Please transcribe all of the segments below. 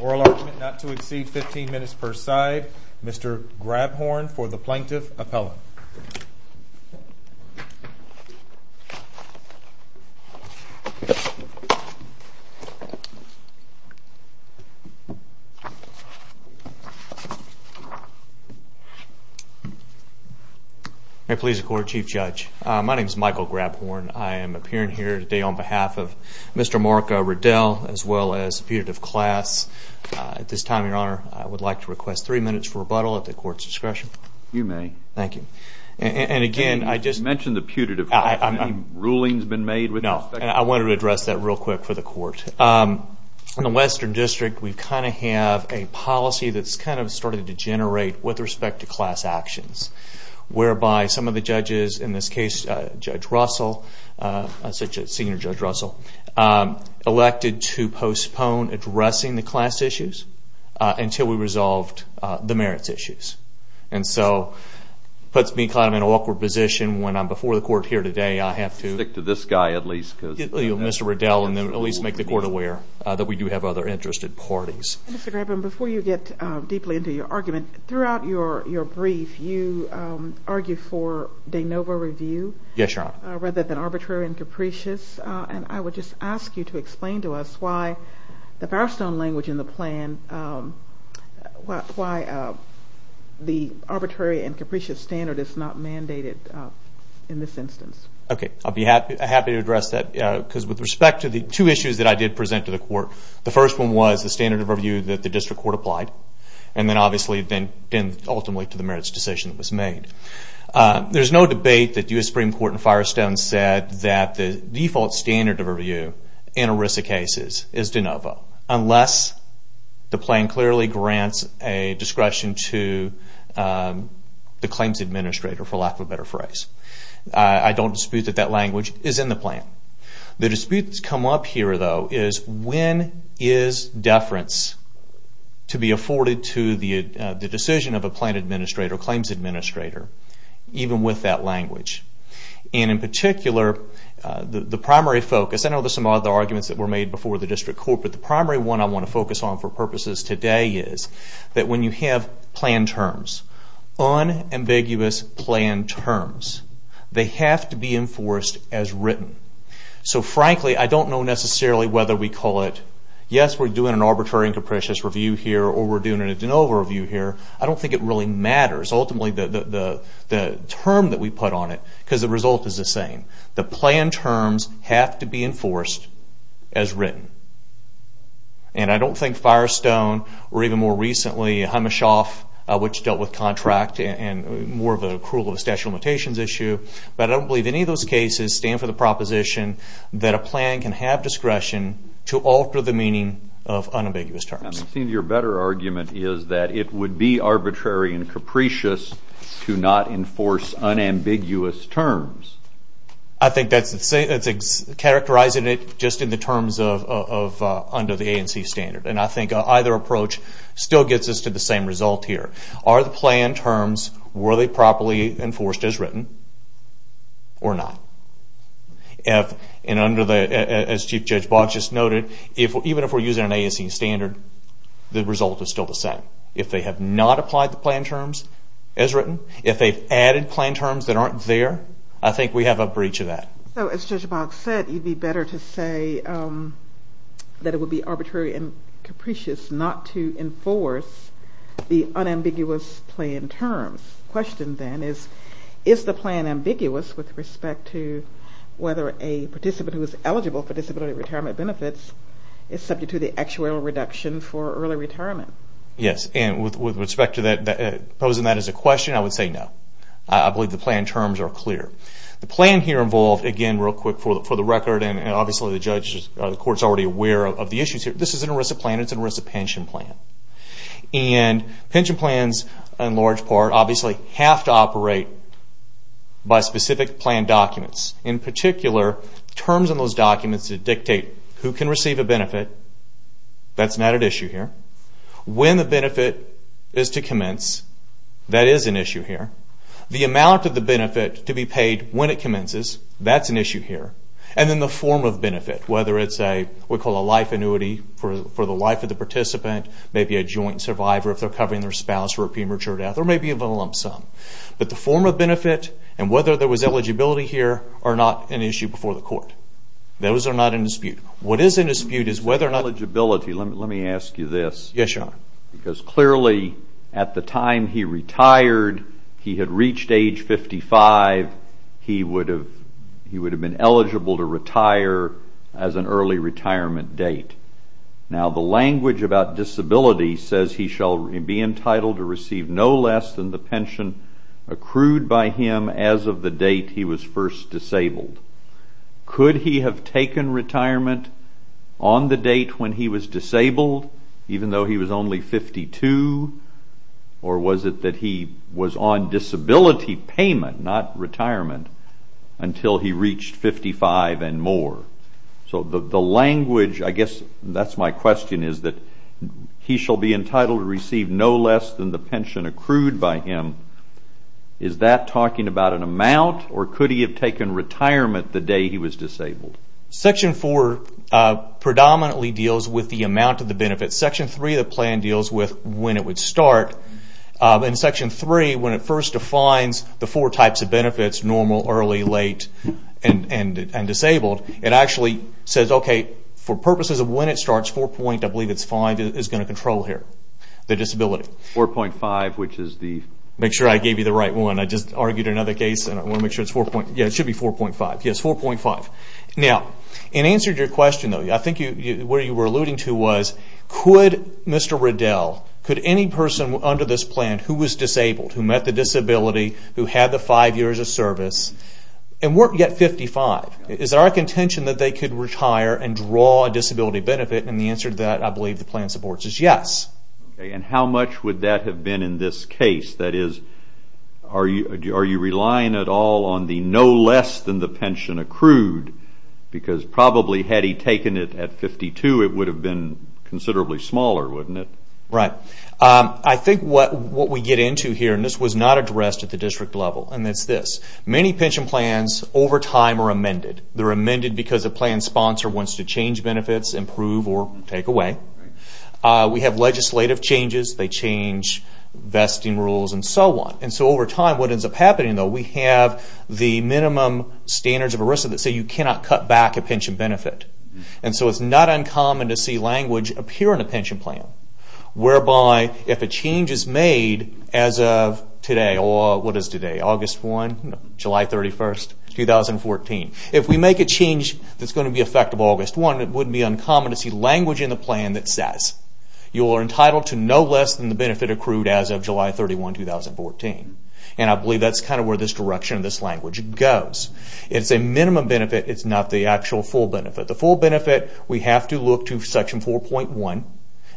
Oral argument not to exceed 15 minutes per side. Mr. Grabhorn for the Plaintiff Appellant. May it please the Court, Chief Judge. My name is Michael Grabhorn. I am appearing here today on behalf of Mr. Mark Radell, as well as the putative class. At this time, Your Honor, I would like to request three minutes for rebuttal at the Court's discretion. You may. Thank you. And again, I just... You mentioned the putative class. Have any rulings been made? No. I wanted to address that real quick for the Court. In the Western District, we kind of have a policy that's kind of started to degenerate with respect to class actions, whereby some of the judges, in this case, Judge Russell, Senior Judge Russell, elected to postpone addressing the class issues until we resolved the merits issues. And so, it puts me kind of in an awkward position when I'm before the Court here today. I have to stick to this guy at least. Mr. Radell, and at least make the Court aware that we do have other interested parties. Mr. Grabhorn, before you get deeply into your argument, throughout your brief, you argued for de novo review. Yes, Your Honor. Rather than arbitrary and capricious. And I would just ask you to explain to us why the Barstone language in the plan, why the arbitrary and capricious standard is not mandated in this instance. Okay. I'll be happy to address that. Because with respect to the two issues that I did present to the Court, the first one was the standard of review that the District Court applied. And then, obviously, ultimately, to the merits decision that was made. There's no debate that the U.S. Supreme Court in Firestone said that the default standard of review in ERISA cases is de novo. Unless the plan clearly grants a discretion to the claims administrator, for lack of a better phrase. I don't dispute that that language is in the plan. The dispute that's come up here, though, is when is deference to be afforded to the decision of a plan administrator, claims administrator, even with that language. And in particular, the primary focus, I know there's some other arguments that were made before the District Court, but the primary one I want to focus on for purposes today is that when you have plan terms, unambiguous plan terms, they have to be enforced as written. So, frankly, I don't know necessarily whether we call it, yes, we're doing an arbitrary and capricious review here, or we're doing a de novo review here. I don't think it really matters. Ultimately, the term that we put on it, because the result is the same. The plan terms have to be enforced as written. And I don't think Firestone, or even more recently, Himeshoff, which dealt with contract and more of the accrual of the statute of limitations issue, but I don't believe any of those cases stand for the proposition that a plan can have discretion to alter the meaning of unambiguous terms. It seems your better argument is that it would be arbitrary and capricious to not enforce unambiguous terms. I think that's characterizing it just in the terms of under the ANC standard. And I think either approach still gets us to the same result here. Are the plan terms, were they properly enforced as written or not? As Chief Judge Boggs just noted, even if we're using an ANC standard, the result is still the same. If they have not applied the plan terms as written, if they've added plan terms that aren't there, I think we have a breach of that. So as Judge Boggs said, you'd be better to say that it would be arbitrary and capricious not to enforce the unambiguous plan terms. The question then is, is the plan ambiguous with respect to whether a participant who is eligible for disability retirement benefits is subject to the actuarial reduction for early retirement? Yes. And with respect to posing that as a question, I would say no. I believe the plan terms are clear. The plan here involved, again real quick for the record, and obviously the court is already aware of the issues here, this isn't a risk of plan, it's a risk of pension plan. And pension plans, in large part, obviously have to operate by specific plan documents. In particular, terms in those documents that dictate who can receive a benefit, that's not an issue here. When the benefit is to commence, that is an issue here. The amount of the benefit to be paid when it commences, that's an issue here. And then the form of benefit, whether it's what we call a life annuity for the life of the participant, maybe a joint survivor if they're covering their spouse for a premature death, or maybe a lump sum. But the form of benefit and whether there was eligibility here are not an issue before the court. Those are not in dispute. What is in dispute is whether or not... on the date when he was disabled, even though he was only 52, or was it that he was on disability payment, not retirement, until he reached 55 and more. So the language, I guess that's my question, is that he shall be entitled to receive no less than the pension accrued by him. Is that talking about an amount, or could he have taken retirement the day he was disabled? Section 4 predominantly deals with the amount of the benefit. Section 3 of the plan deals with when it would start. In Section 3, when it first defines the four types of benefits, normal, early, late, and disabled, it actually says, okay, for purposes of when it starts, 4.5 is going to control here, the disability. 4.5, which is the... Make sure I gave you the right one. I just argued another case, and I want to make sure it's 4.5. Now, in answer to your question, I think what you were alluding to was, could Mr. Riddell, could any person under this plan who was disabled, who met the disability, who had the five years of service, and weren't yet 55, is there a contention that they could retire and draw a disability benefit? And the answer to that, I believe the plan supports, is yes. Okay, and how much would that have been in this case? That is, are you relying at all on the no less than the pension accrued? Because probably had he taken it at 52, it would have been considerably smaller, wouldn't it? Right. I think what we get into here, and this was not addressed at the district level, and it's this. Many pension plans, over time, are amended. They're amended because a plan sponsor wants to change benefits, improve, or take away. We have legislative changes, they change vesting rules, and so on. And so over time, what ends up happening, though, we have the minimum standards of ERISA that say you cannot cut back a pension benefit. And so it's not uncommon to see language appear in a pension plan. Whereby, if a change is made as of today, or what is today, August 1, July 31, 2014. If we make a change that's going to be effective August 1, it would be uncommon to see language in the plan that says, you are entitled to no less than the benefit accrued as of July 31, 2014. And I believe that's kind of where this direction of this language goes. It's a minimum benefit, it's not the actual full benefit. The full benefit, we have to look to section 4.1.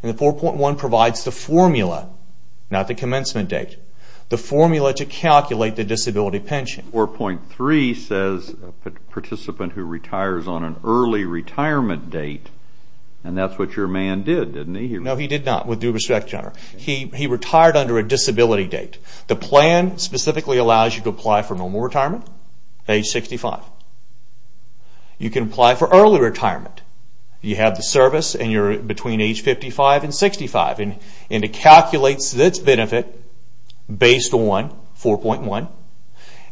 And 4.1 provides the formula, not the commencement date, the formula to calculate the disability pension. 4.3 says a participant who retires on an early retirement date, and that's what your man did, didn't he? No, he did not, with due respect, John. He retired under a disability date. The plan specifically allows you to apply for normal retirement, age 65. You can apply for early retirement. You have the service, and you're between age 55 and 65. And it calculates this benefit based on 4.1.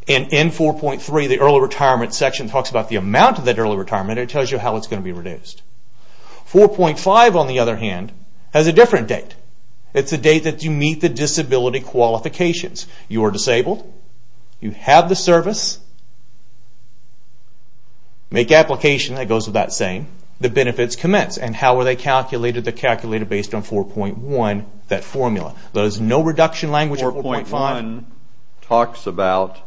And in 4.3, the early retirement section talks about the amount of that early retirement, and it tells you how it's going to be reduced. 4.5, on the other hand, has a different date. It's a date that you meet the disability qualifications. You are disabled, you have the service, make application, that goes with that same, the benefits commence. And how are they calculated? They're calculated based on 4.1, that formula. There's no reduction language in 4.5. The pension section talks about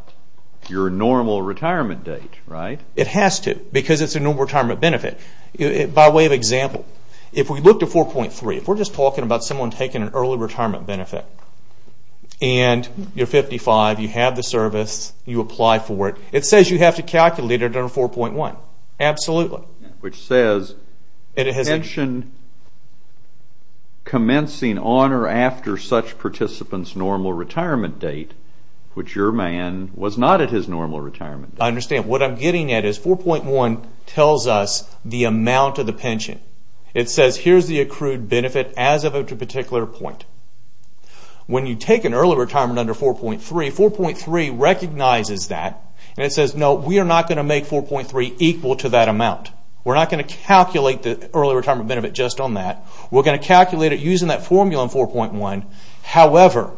your normal retirement date, right? It has to, because it's a normal retirement benefit. By way of example, if we looked at 4.3, if we're just talking about someone taking an early retirement benefit, and you're 55, you have the service, you apply for it, it says you have to calculate it under 4.1. Absolutely. Which says, pension commencing on or after such participant's normal retirement date, which your man was not at his normal retirement date. What I'm getting at is 4.1 tells us the amount of the pension. It says, here's the accrued benefit as of a particular point. When you take an early retirement under 4.3, 4.3 recognizes that, and it says, no, we are not going to make 4.3 equal to that amount. We're not going to calculate the early retirement benefit just on that. We're going to calculate it using that formula in 4.1. However,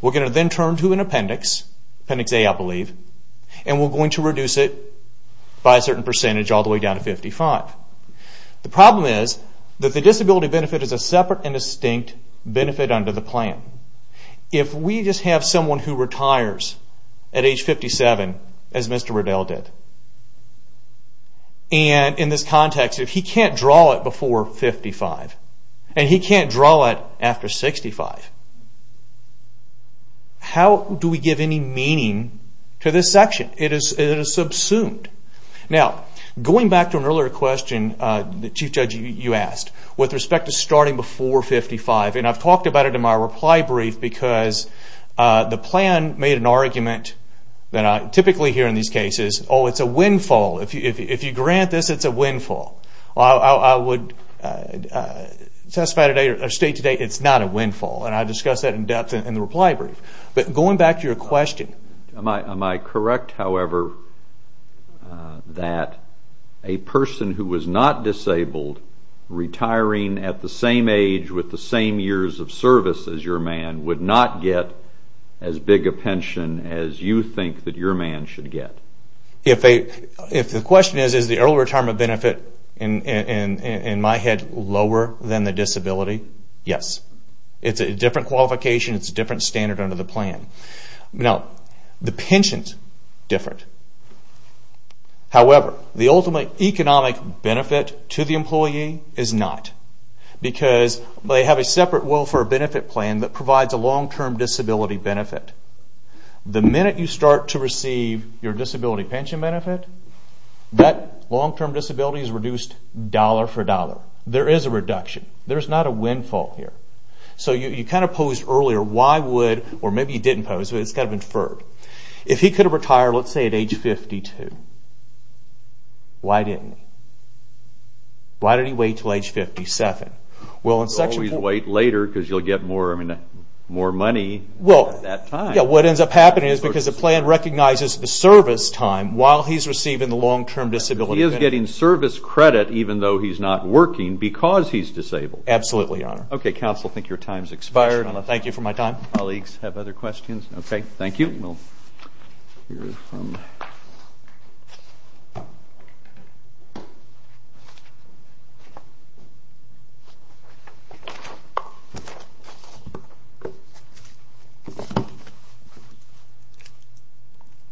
we're going to then turn to an appendix, appendix A I believe, and we're going to reduce it by a certain percentage all the way down to 55. The problem is that the disability benefit is a separate and distinct benefit under the plan. If we just have someone who retires at age 57, as Mr. Riddell did, and in this context, if he can't draw it before 55, and he can't draw it after 65, how do we give any meaning to this section? It is subsumed. Now, going back to an earlier question, the Chief Judge, you asked, with respect to starting before 55, and I've talked about it in my reply brief, because the plan made an argument that I typically hear in these cases, oh, it's a windfall. If you grant this, it's a windfall. I would state today, it's not a windfall, and I discussed that in depth in the reply brief. Am I correct, however, that a person who was not disabled retiring at the same age with the same years of service as your man would not get as big a pension as you think that your man should get? If the question is, is the early retirement benefit, in my head, lower than the disability, yes. It's a different qualification. It's a different standard under the plan. Now, the pension is different. However, the ultimate economic benefit to the employee is not, because they have a separate welfare benefit plan that provides a long-term disability benefit. The minute you start to receive your disability pension benefit, that long-term disability is reduced dollar for dollar. There is a reduction. There's not a windfall here. So, you kind of posed earlier, why would, or maybe you didn't pose, but it's got to be inferred. If he could have retired, let's say, at age 52, why didn't he? Why did he wait until age 57? You always wait later, because you'll get more money at that time. Well, what ends up happening is because the plan recognizes the service time while he's receiving the long-term disability benefit. He is getting service credit, even though he's not working, because he's disabled. Absolutely, Your Honor. Okay, counsel, I think your time has expired. Thank you for my time. Colleagues have other questions? Okay, thank you.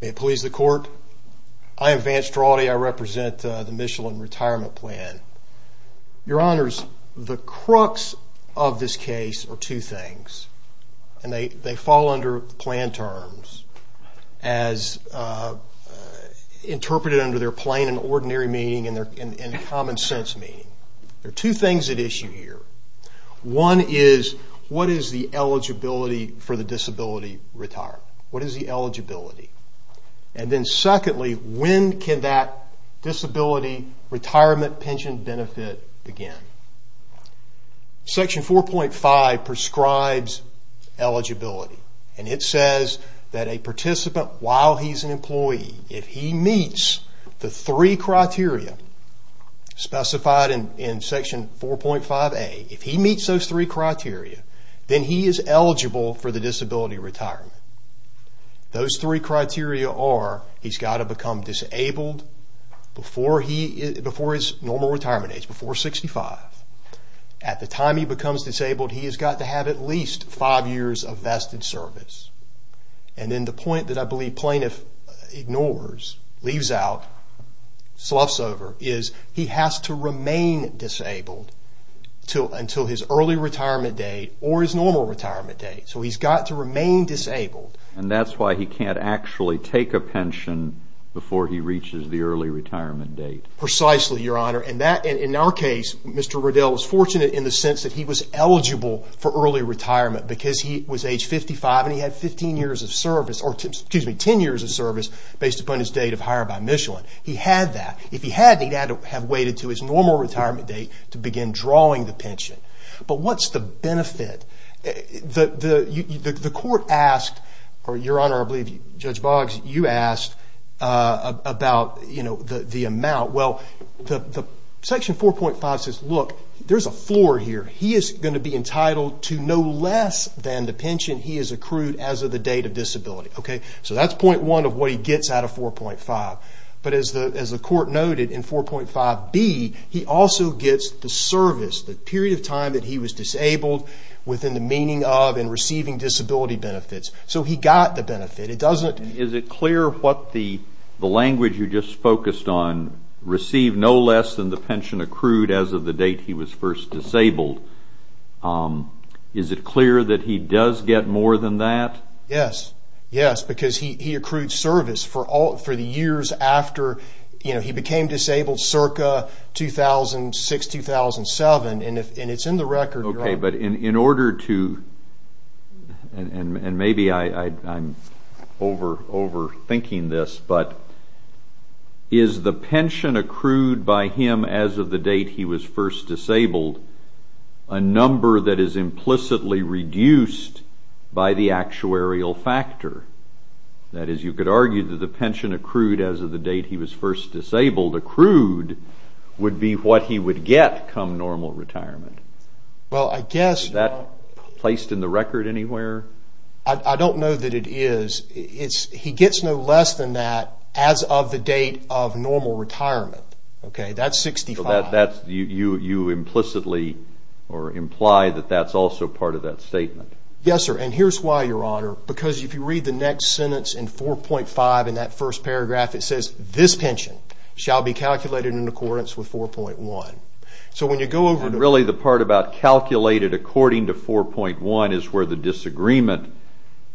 May it please the court, I am Vance Draughty. I represent the Michelin Retirement Plan. Your Honors, the crux of this case are two things, and they fall under plan terms as interpreted under their plain and ordinary meaning and their common sense meaning. There are two things at issue here. One is, what is the eligibility for the disability retirement? What is the eligibility? And then secondly, when can that disability retirement pension benefit begin? Section 4.5 prescribes eligibility. And it says that a participant, while he's an employee, if he meets the three criteria specified in Section 4.5A, if he meets those three criteria, then he is eligible for the disability retirement. Those three criteria are, he's got to become disabled before his normal retirement age, before 65. At the time he becomes disabled, he has got to have at least five years of vested service. And then the point that I believe plaintiff ignores, leaves out, sloughs over, is he has to remain disabled until his early retirement date or his normal retirement date. So he's got to remain disabled. And that's why he can't actually take a pension before he reaches the early retirement date. Precisely, Your Honor. And that, in our case, Mr. Riddell was fortunate in the sense that he was eligible for early retirement because he was age 55 and he had 15 years of service, or excuse me, 10 years of service based upon his date of hire by Michelin. He had that. If he hadn't, he'd have to have waited to his normal retirement date to begin drawing the pension. But what's the benefit? The court asked, or Your Honor, I believe Judge Boggs, you asked about the amount. Well, Section 4.5 says, look, there's a floor here. He is going to be entitled to no less than the pension he has accrued as of the date of disability. So that's point one of what he gets out of 4.5. But as the court noted, in 4.5b, he also gets the service, the period of time that he was disabled, within the meaning of and receiving disability benefits. So he got the benefit. Is it clear what the language you just focused on, receive no less than the pension accrued as of the date he was first disabled, is it clear that he does get more than that? Yes, yes, because he accrued service for the years after he became disabled circa 2006-2007. And it's in the record, Your Honor. Okay, but in order to, and maybe I'm over-thinking this, but is the pension accrued by him as of the date he was first disabled a number that is implicitly reduced by the actuarial factor? That is, you could argue that the pension accrued as of the date he was first disabled, accrued, would be what he would get come normal retirement. Well, I guess... Is that placed in the record anywhere? I don't know that it is. He gets no less than that as of the date of normal retirement. Okay, that's 65. So you implicitly imply that that's also part of that statement. Yes, sir, and here's why, Your Honor, because if you read the next sentence in 4.5 in that first paragraph, it says this pension shall be calculated in accordance with 4.1. So when you go over to... And really the part about calculated according to 4.1 is where the disagreement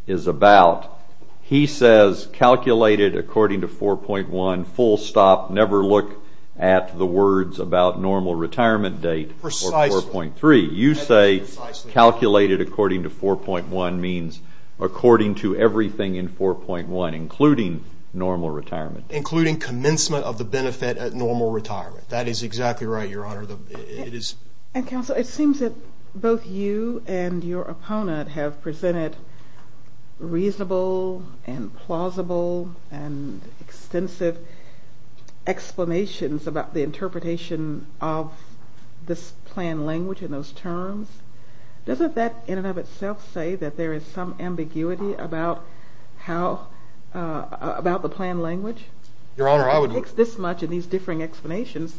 is about. He says calculated according to 4.1, full stop, never look at the words about normal retirement date or 4.3. You say calculated according to 4.1 means according to everything in 4.1, including normal retirement date. Including commencement of the benefit at normal retirement. That is exactly right, Your Honor. And, Counsel, it seems that both you and your opponent have presented reasonable and plausible and extensive explanations about the interpretation of this plan language in those terms. Doesn't that in and of itself say that there is some ambiguity about how... about the plan language? Your Honor, I would... It's this much in these differing explanations.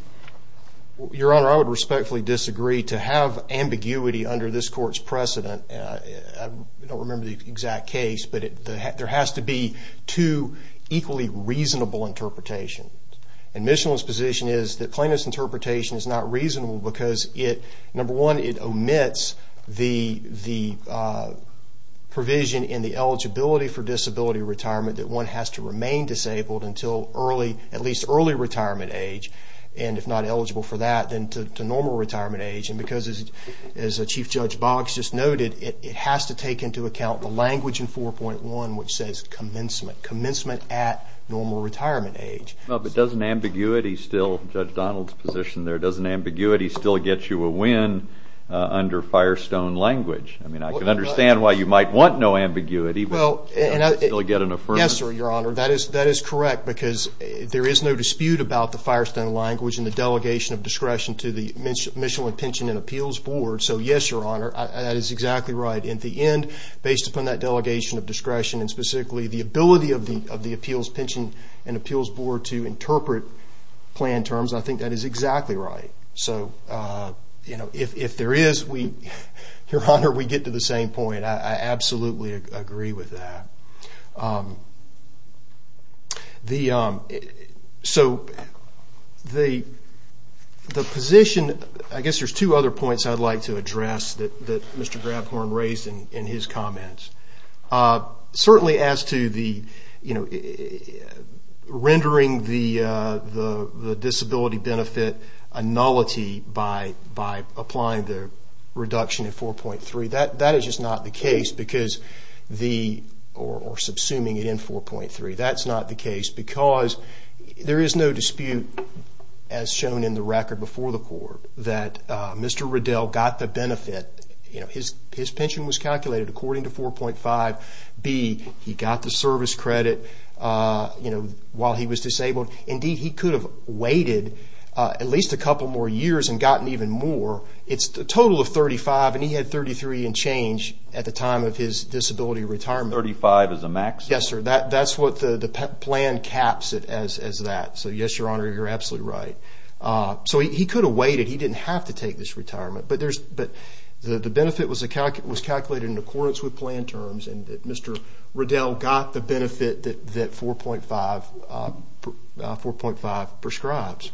Your Honor, I would respectfully disagree to have ambiguity under this court's precedent. I don't remember the exact case, but there has to be two equally reasonable interpretations. And Mitchell's position is that plaintiff's interpretation is not reasonable because it, number one, it omits the provision in the eligibility for disability retirement that one has to remain disabled until early, at least early retirement age. And if not eligible for that, then to normal retirement age. And because, as Chief Judge Boggs just noted, it has to take into account the language in 4.1 which says commencement. Commencement at normal retirement age. Well, but doesn't ambiguity still, Judge Donald's position there, doesn't ambiguity still get you a win under Firestone language? I mean, I can understand why you might want no ambiguity, but doesn't it still get an affirmation? Yes, Your Honor, that is correct because there is no dispute about the Firestone language and the delegation of discretion to the Mitchell Pension and Appeals Board. So, yes, Your Honor, that is exactly right. In the end, based upon that delegation of discretion and specifically the ability of the Appeals Pension and Appeals Board to interpret plan terms, I think that is exactly right. So, you know, if there is, Your Honor, we get to the same point. I absolutely agree with that. So, the position, I guess there's two other points I'd like to address that Mr. Grabhorn raised in his comments. Certainly as to the, you know, rendering the disability benefit a nullity by applying the reduction in 4.3, that is just not the case because the, or subsuming it in 4.3, that's not the case because there is no dispute as shown in the record before the court that Mr. Riddell got the benefit. You know, his pension was calculated according to 4.5b. He got the service credit, you know, while he was disabled. Indeed, he could have waited at least a couple more years and gotten even more. It's a total of 35, and he had 33 and change at the time of his disability retirement. 35 is a max? Yes, sir. That's what the plan caps it as that. So, yes, Your Honor, you're absolutely right. So, he could have waited. He didn't have to take this retirement. But the benefit was calculated in accordance with plan terms, and Mr. Riddell got the benefit that 4.5 prescribes.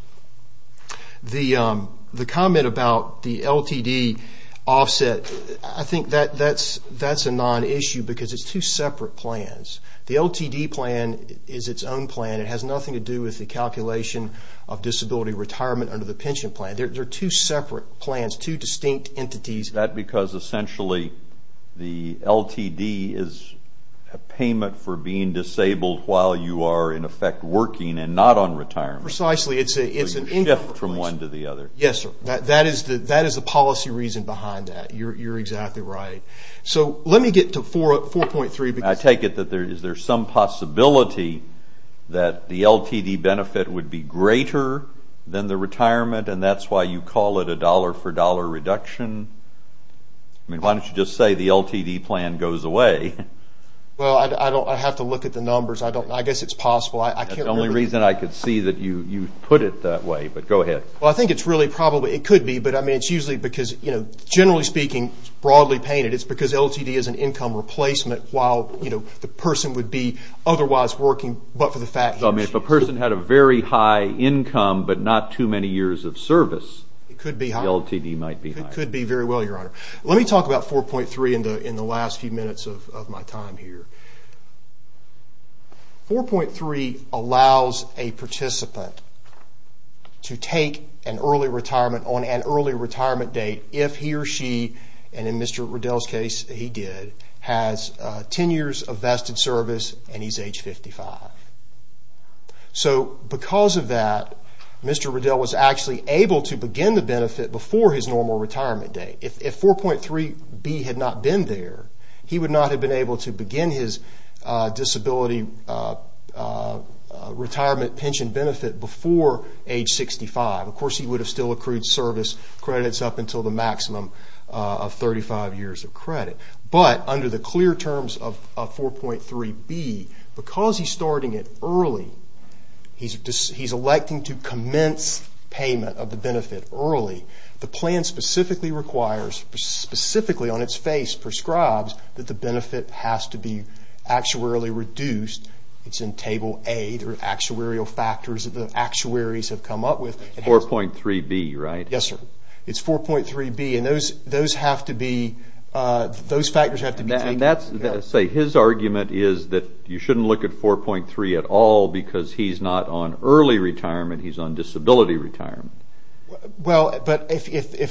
The comment about the LTD offset, I think that's a non-issue because it's two separate plans. The LTD plan is its own plan. It has nothing to do with the calculation of disability retirement under the pension plan. They're two separate plans, two distinct entities. Is that because essentially the LTD is a payment for being disabled while you are, in effect, working and not on retirement? Precisely. It's a shift from one to the other. Yes, sir. That is the policy reason behind that. You're exactly right. So, let me get to 4.3. I take it that there is some possibility that the LTD benefit would be greater than the retirement, and that's why you call it a dollar-for-dollar reduction? I mean, why don't you just say the LTD plan goes away? Well, I have to look at the numbers. I guess it's possible. That's the only reason I could see that you put it that way, but go ahead. Well, I think it's really probably. It could be, but it's usually because, generally speaking, broadly painted, it's because LTD is an income replacement while the person would be otherwise working but for the fact. So, I mean, if a person had a very high income but not too many years of service, the LTD might be higher. It could be very well, Your Honor. Let me talk about 4.3 in the last few minutes of my time here. 4.3 allows a participant to take an early retirement on an early retirement date if he or she, and in Mr. Riddell's case, he did, has 10 years of vested service and he's age 55. So, because of that, Mr. Riddell was actually able to begin the benefit before his normal retirement date. If 4.3B had not been there, he would not have been able to begin his disability retirement pension benefit before age 65. Of course, he would have still accrued service credits up until the maximum of 35 years of credit. But under the clear terms of 4.3B, because he's starting it early, he's electing to commence payment of the benefit early, the plan specifically requires, specifically on its face prescribes that the benefit has to be actuarially reduced. It's in Table A. There are actuarial factors that the actuaries have come up with. 4.3B, right? Yes, sir. It's 4.3B, and those factors have to be taken into account. Say, his argument is that you shouldn't look at 4.3 at all because he's not on early retirement. He's on disability retirement. Well, but if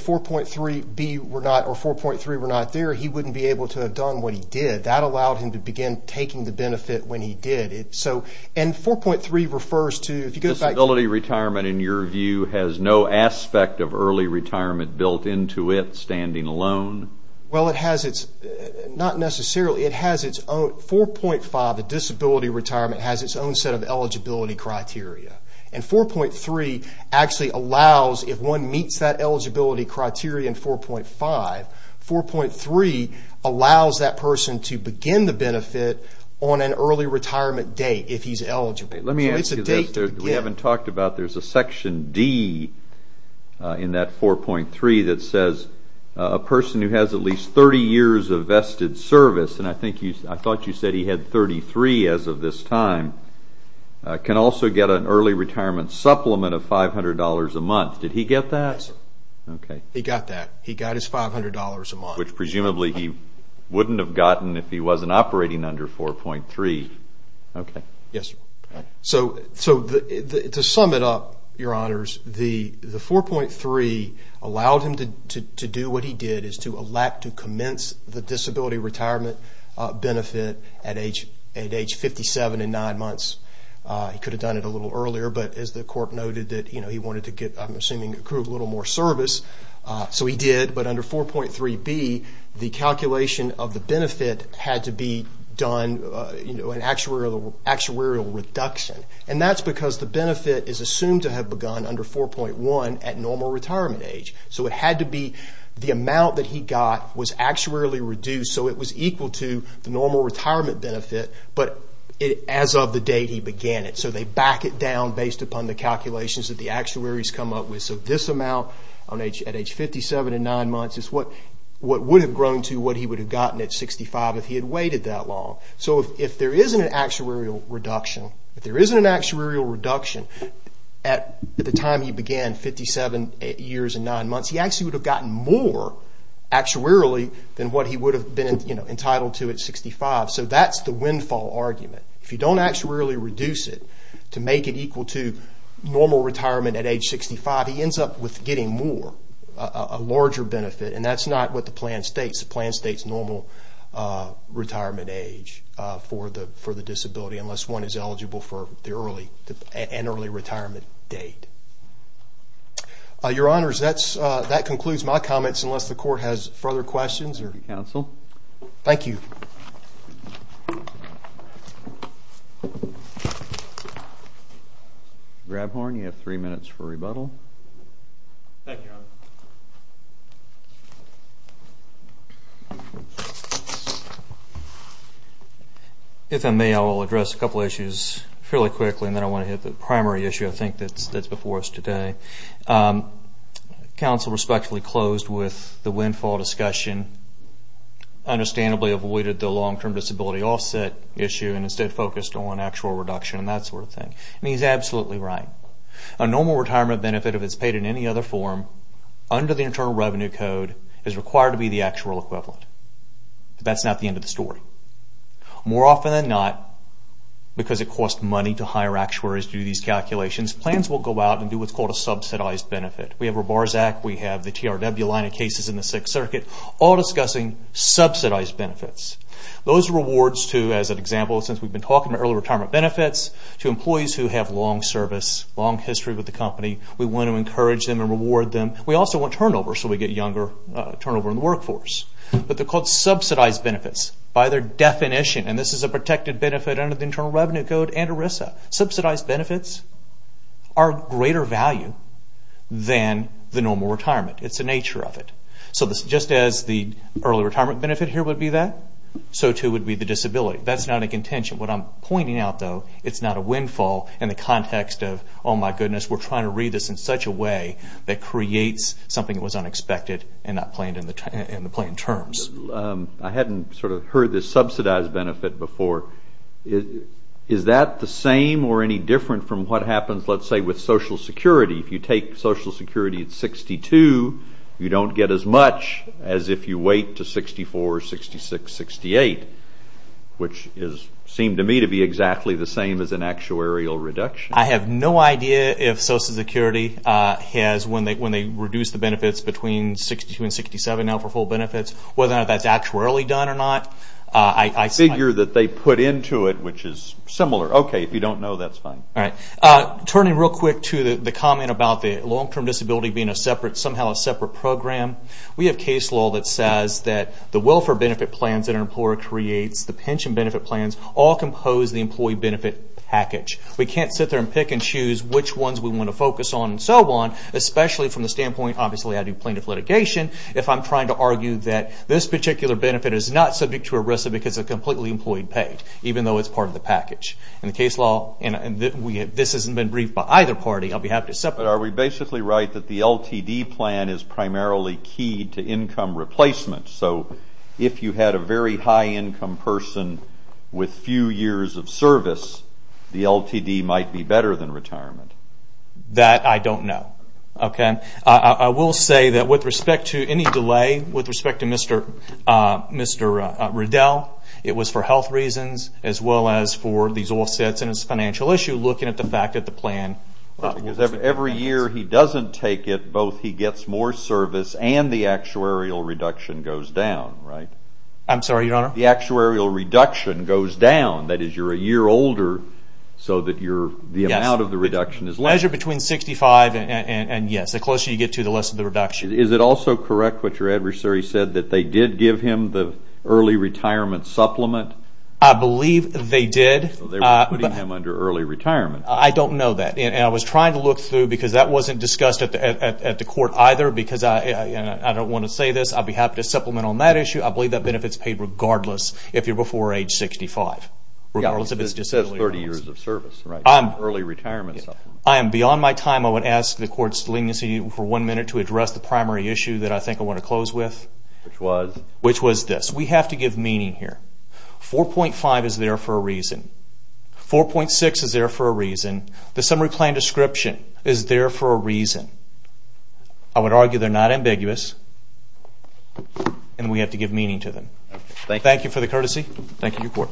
4.3B were not, or 4.3 were not there, he wouldn't be able to have done what he did. That allowed him to begin taking the benefit when he did. And 4.3 refers to, if you go back to- Disability retirement, in your view, has no aspect of early retirement built into it, standing alone? Well, it has its, not necessarily. It has its own, 4.5, the disability retirement, has its own set of eligibility criteria. And 4.3 actually allows, if one meets that eligibility criteria in 4.5, 4.3 allows that person to begin the benefit on an early retirement date if he's eligible. Let me ask you this. It's a date to begin. We haven't talked about, there's a Section D in that 4.3 that says, a person who has at least 30 years of vested service, and I thought you said he had 33 as of this time, can also get an early retirement supplement of $500 a month. Did he get that? Yes, sir. Okay. He got that. He got his $500 a month. Which presumably he wouldn't have gotten if he wasn't operating under 4.3. Okay. Yes, sir. So, to sum it up, your honors, the 4.3 allowed him to do what he did, which is to elect to commence the disability retirement benefit at age 57 and nine months. He could have done it a little earlier, but as the court noted that he wanted to get, I'm assuming, accrue a little more service, so he did. But under 4.3b, the calculation of the benefit had to be done in actuarial reduction. And that's because the benefit is assumed to have begun under 4.1 at normal retirement age. So, it had to be the amount that he got was actuarially reduced, so it was equal to the normal retirement benefit, but as of the date he began it. So, they back it down based upon the calculations that the actuaries come up with. So, this amount at age 57 and nine months is what would have grown to what he would have gotten at 65 if he had waited that long. So, if there isn't an actuarial reduction at the time he began, 57 years and nine months, he actually would have gotten more actuarially than what he would have been entitled to at 65. So, that's the windfall argument. If you don't actuarially reduce it to make it equal to normal retirement at age 65, he ends up with getting more, a larger benefit, and that's not what the plan states. It's the plan state's normal retirement age for the disability, unless one is eligible for an early retirement date. Your Honors, that concludes my comments, unless the Court has further questions. Thank you, Counsel. Thank you. Grabhorn, you have three minutes for rebuttal. Thank you, Your Honor. If I may, I will address a couple of issues fairly quickly and then I want to hit the primary issue I think that's before us today. Counsel respectfully closed with the windfall discussion, understandably avoided the long-term disability offset issue and instead focused on actual reduction and that sort of thing. I mean, he's absolutely right. A normal retirement benefit, if it's paid in any other form, under the Internal Revenue Code, is required to be the actuarial equivalent. But that's not the end of the story. More often than not, because it costs money to hire actuaries to do these calculations, plans will go out and do what's called a subsidized benefit. We have a BARS Act, we have the TRW line of cases in the Sixth Circuit, all discussing subsidized benefits. Those are rewards to, as an example, since we've been talking about early retirement benefits, to employees who have long service, long history with the company. We want to encourage them and reward them. We also want turnover so we get younger turnover in the workforce. But they're called subsidized benefits by their definition. And this is a protected benefit under the Internal Revenue Code and ERISA. Subsidized benefits are greater value than the normal retirement. It's the nature of it. So just as the early retirement benefit here would be that, so too would be the disability. That's not a contention. What I'm pointing out, though, it's not a windfall in the context of, oh, my goodness, we're trying to read this in such a way that creates something that was unexpected and not planned in the planned terms. I hadn't sort of heard this subsidized benefit before. Is that the same or any different from what happens, let's say, with Social Security? If you take Social Security at 62, you don't get as much as if you wait to 64, 66, 68, which seemed to me to be exactly the same as an actuarial reduction. I have no idea if Social Security has, when they reduce the benefits between 62 and 67 now for full benefits, whether or not that's actuarially done or not. I figure that they put into it, which is similar. Okay, if you don't know, that's fine. Turning real quick to the comment about the long-term disability being somehow a separate program, we have case law that says that the welfare benefit plans that an employer creates, the pension benefit plans, all compose the employee benefit package. We can't sit there and pick and choose which ones we want to focus on and so on, especially from the standpoint, obviously, I do plaintiff litigation, if I'm trying to argue that this particular benefit is not subject to arrest because it's completely employee paid, even though it's part of the package. In the case law, and this hasn't been briefed by either party, I'll be happy to separate. But are we basically right that the LTD plan is primarily key to income replacement, so if you had a very high income person with few years of service, the LTD might be better than retirement? That I don't know. I will say that with respect to any delay, with respect to Mr. Riddell, it was for health reasons as well as for these offsets and it's a financial issue, looking at the fact that the plan... Because every year he doesn't take it, both he gets more service and the actuarial reduction goes down, right? I'm sorry, Your Honor? The actuarial reduction goes down, that is you're a year older, so that the amount of the reduction is less. Yes, the measure between 65 and yes, the closer you get to the less of the reduction. Is it also correct what your adversary said, that they did give him the early retirement supplement? I believe they did. They were putting him under early retirement. I don't know that. I was trying to look through, because that wasn't discussed at the court either, because I don't want to say this, I'd be happy to supplement on that issue. I believe that benefit is paid regardless if you're before age 65. It says 30 years of service, early retirement supplement. I am beyond my time. I would ask the court's leniency for one minute to address the primary issue that I think I want to close with. Which was? Which was this. We have to give meaning here. 4.5 is there for a reason. 4.6 is there for a reason. The summary plan description is there for a reason. I would argue they're not ambiguous, and we have to give meaning to them. Thank you, Your Court.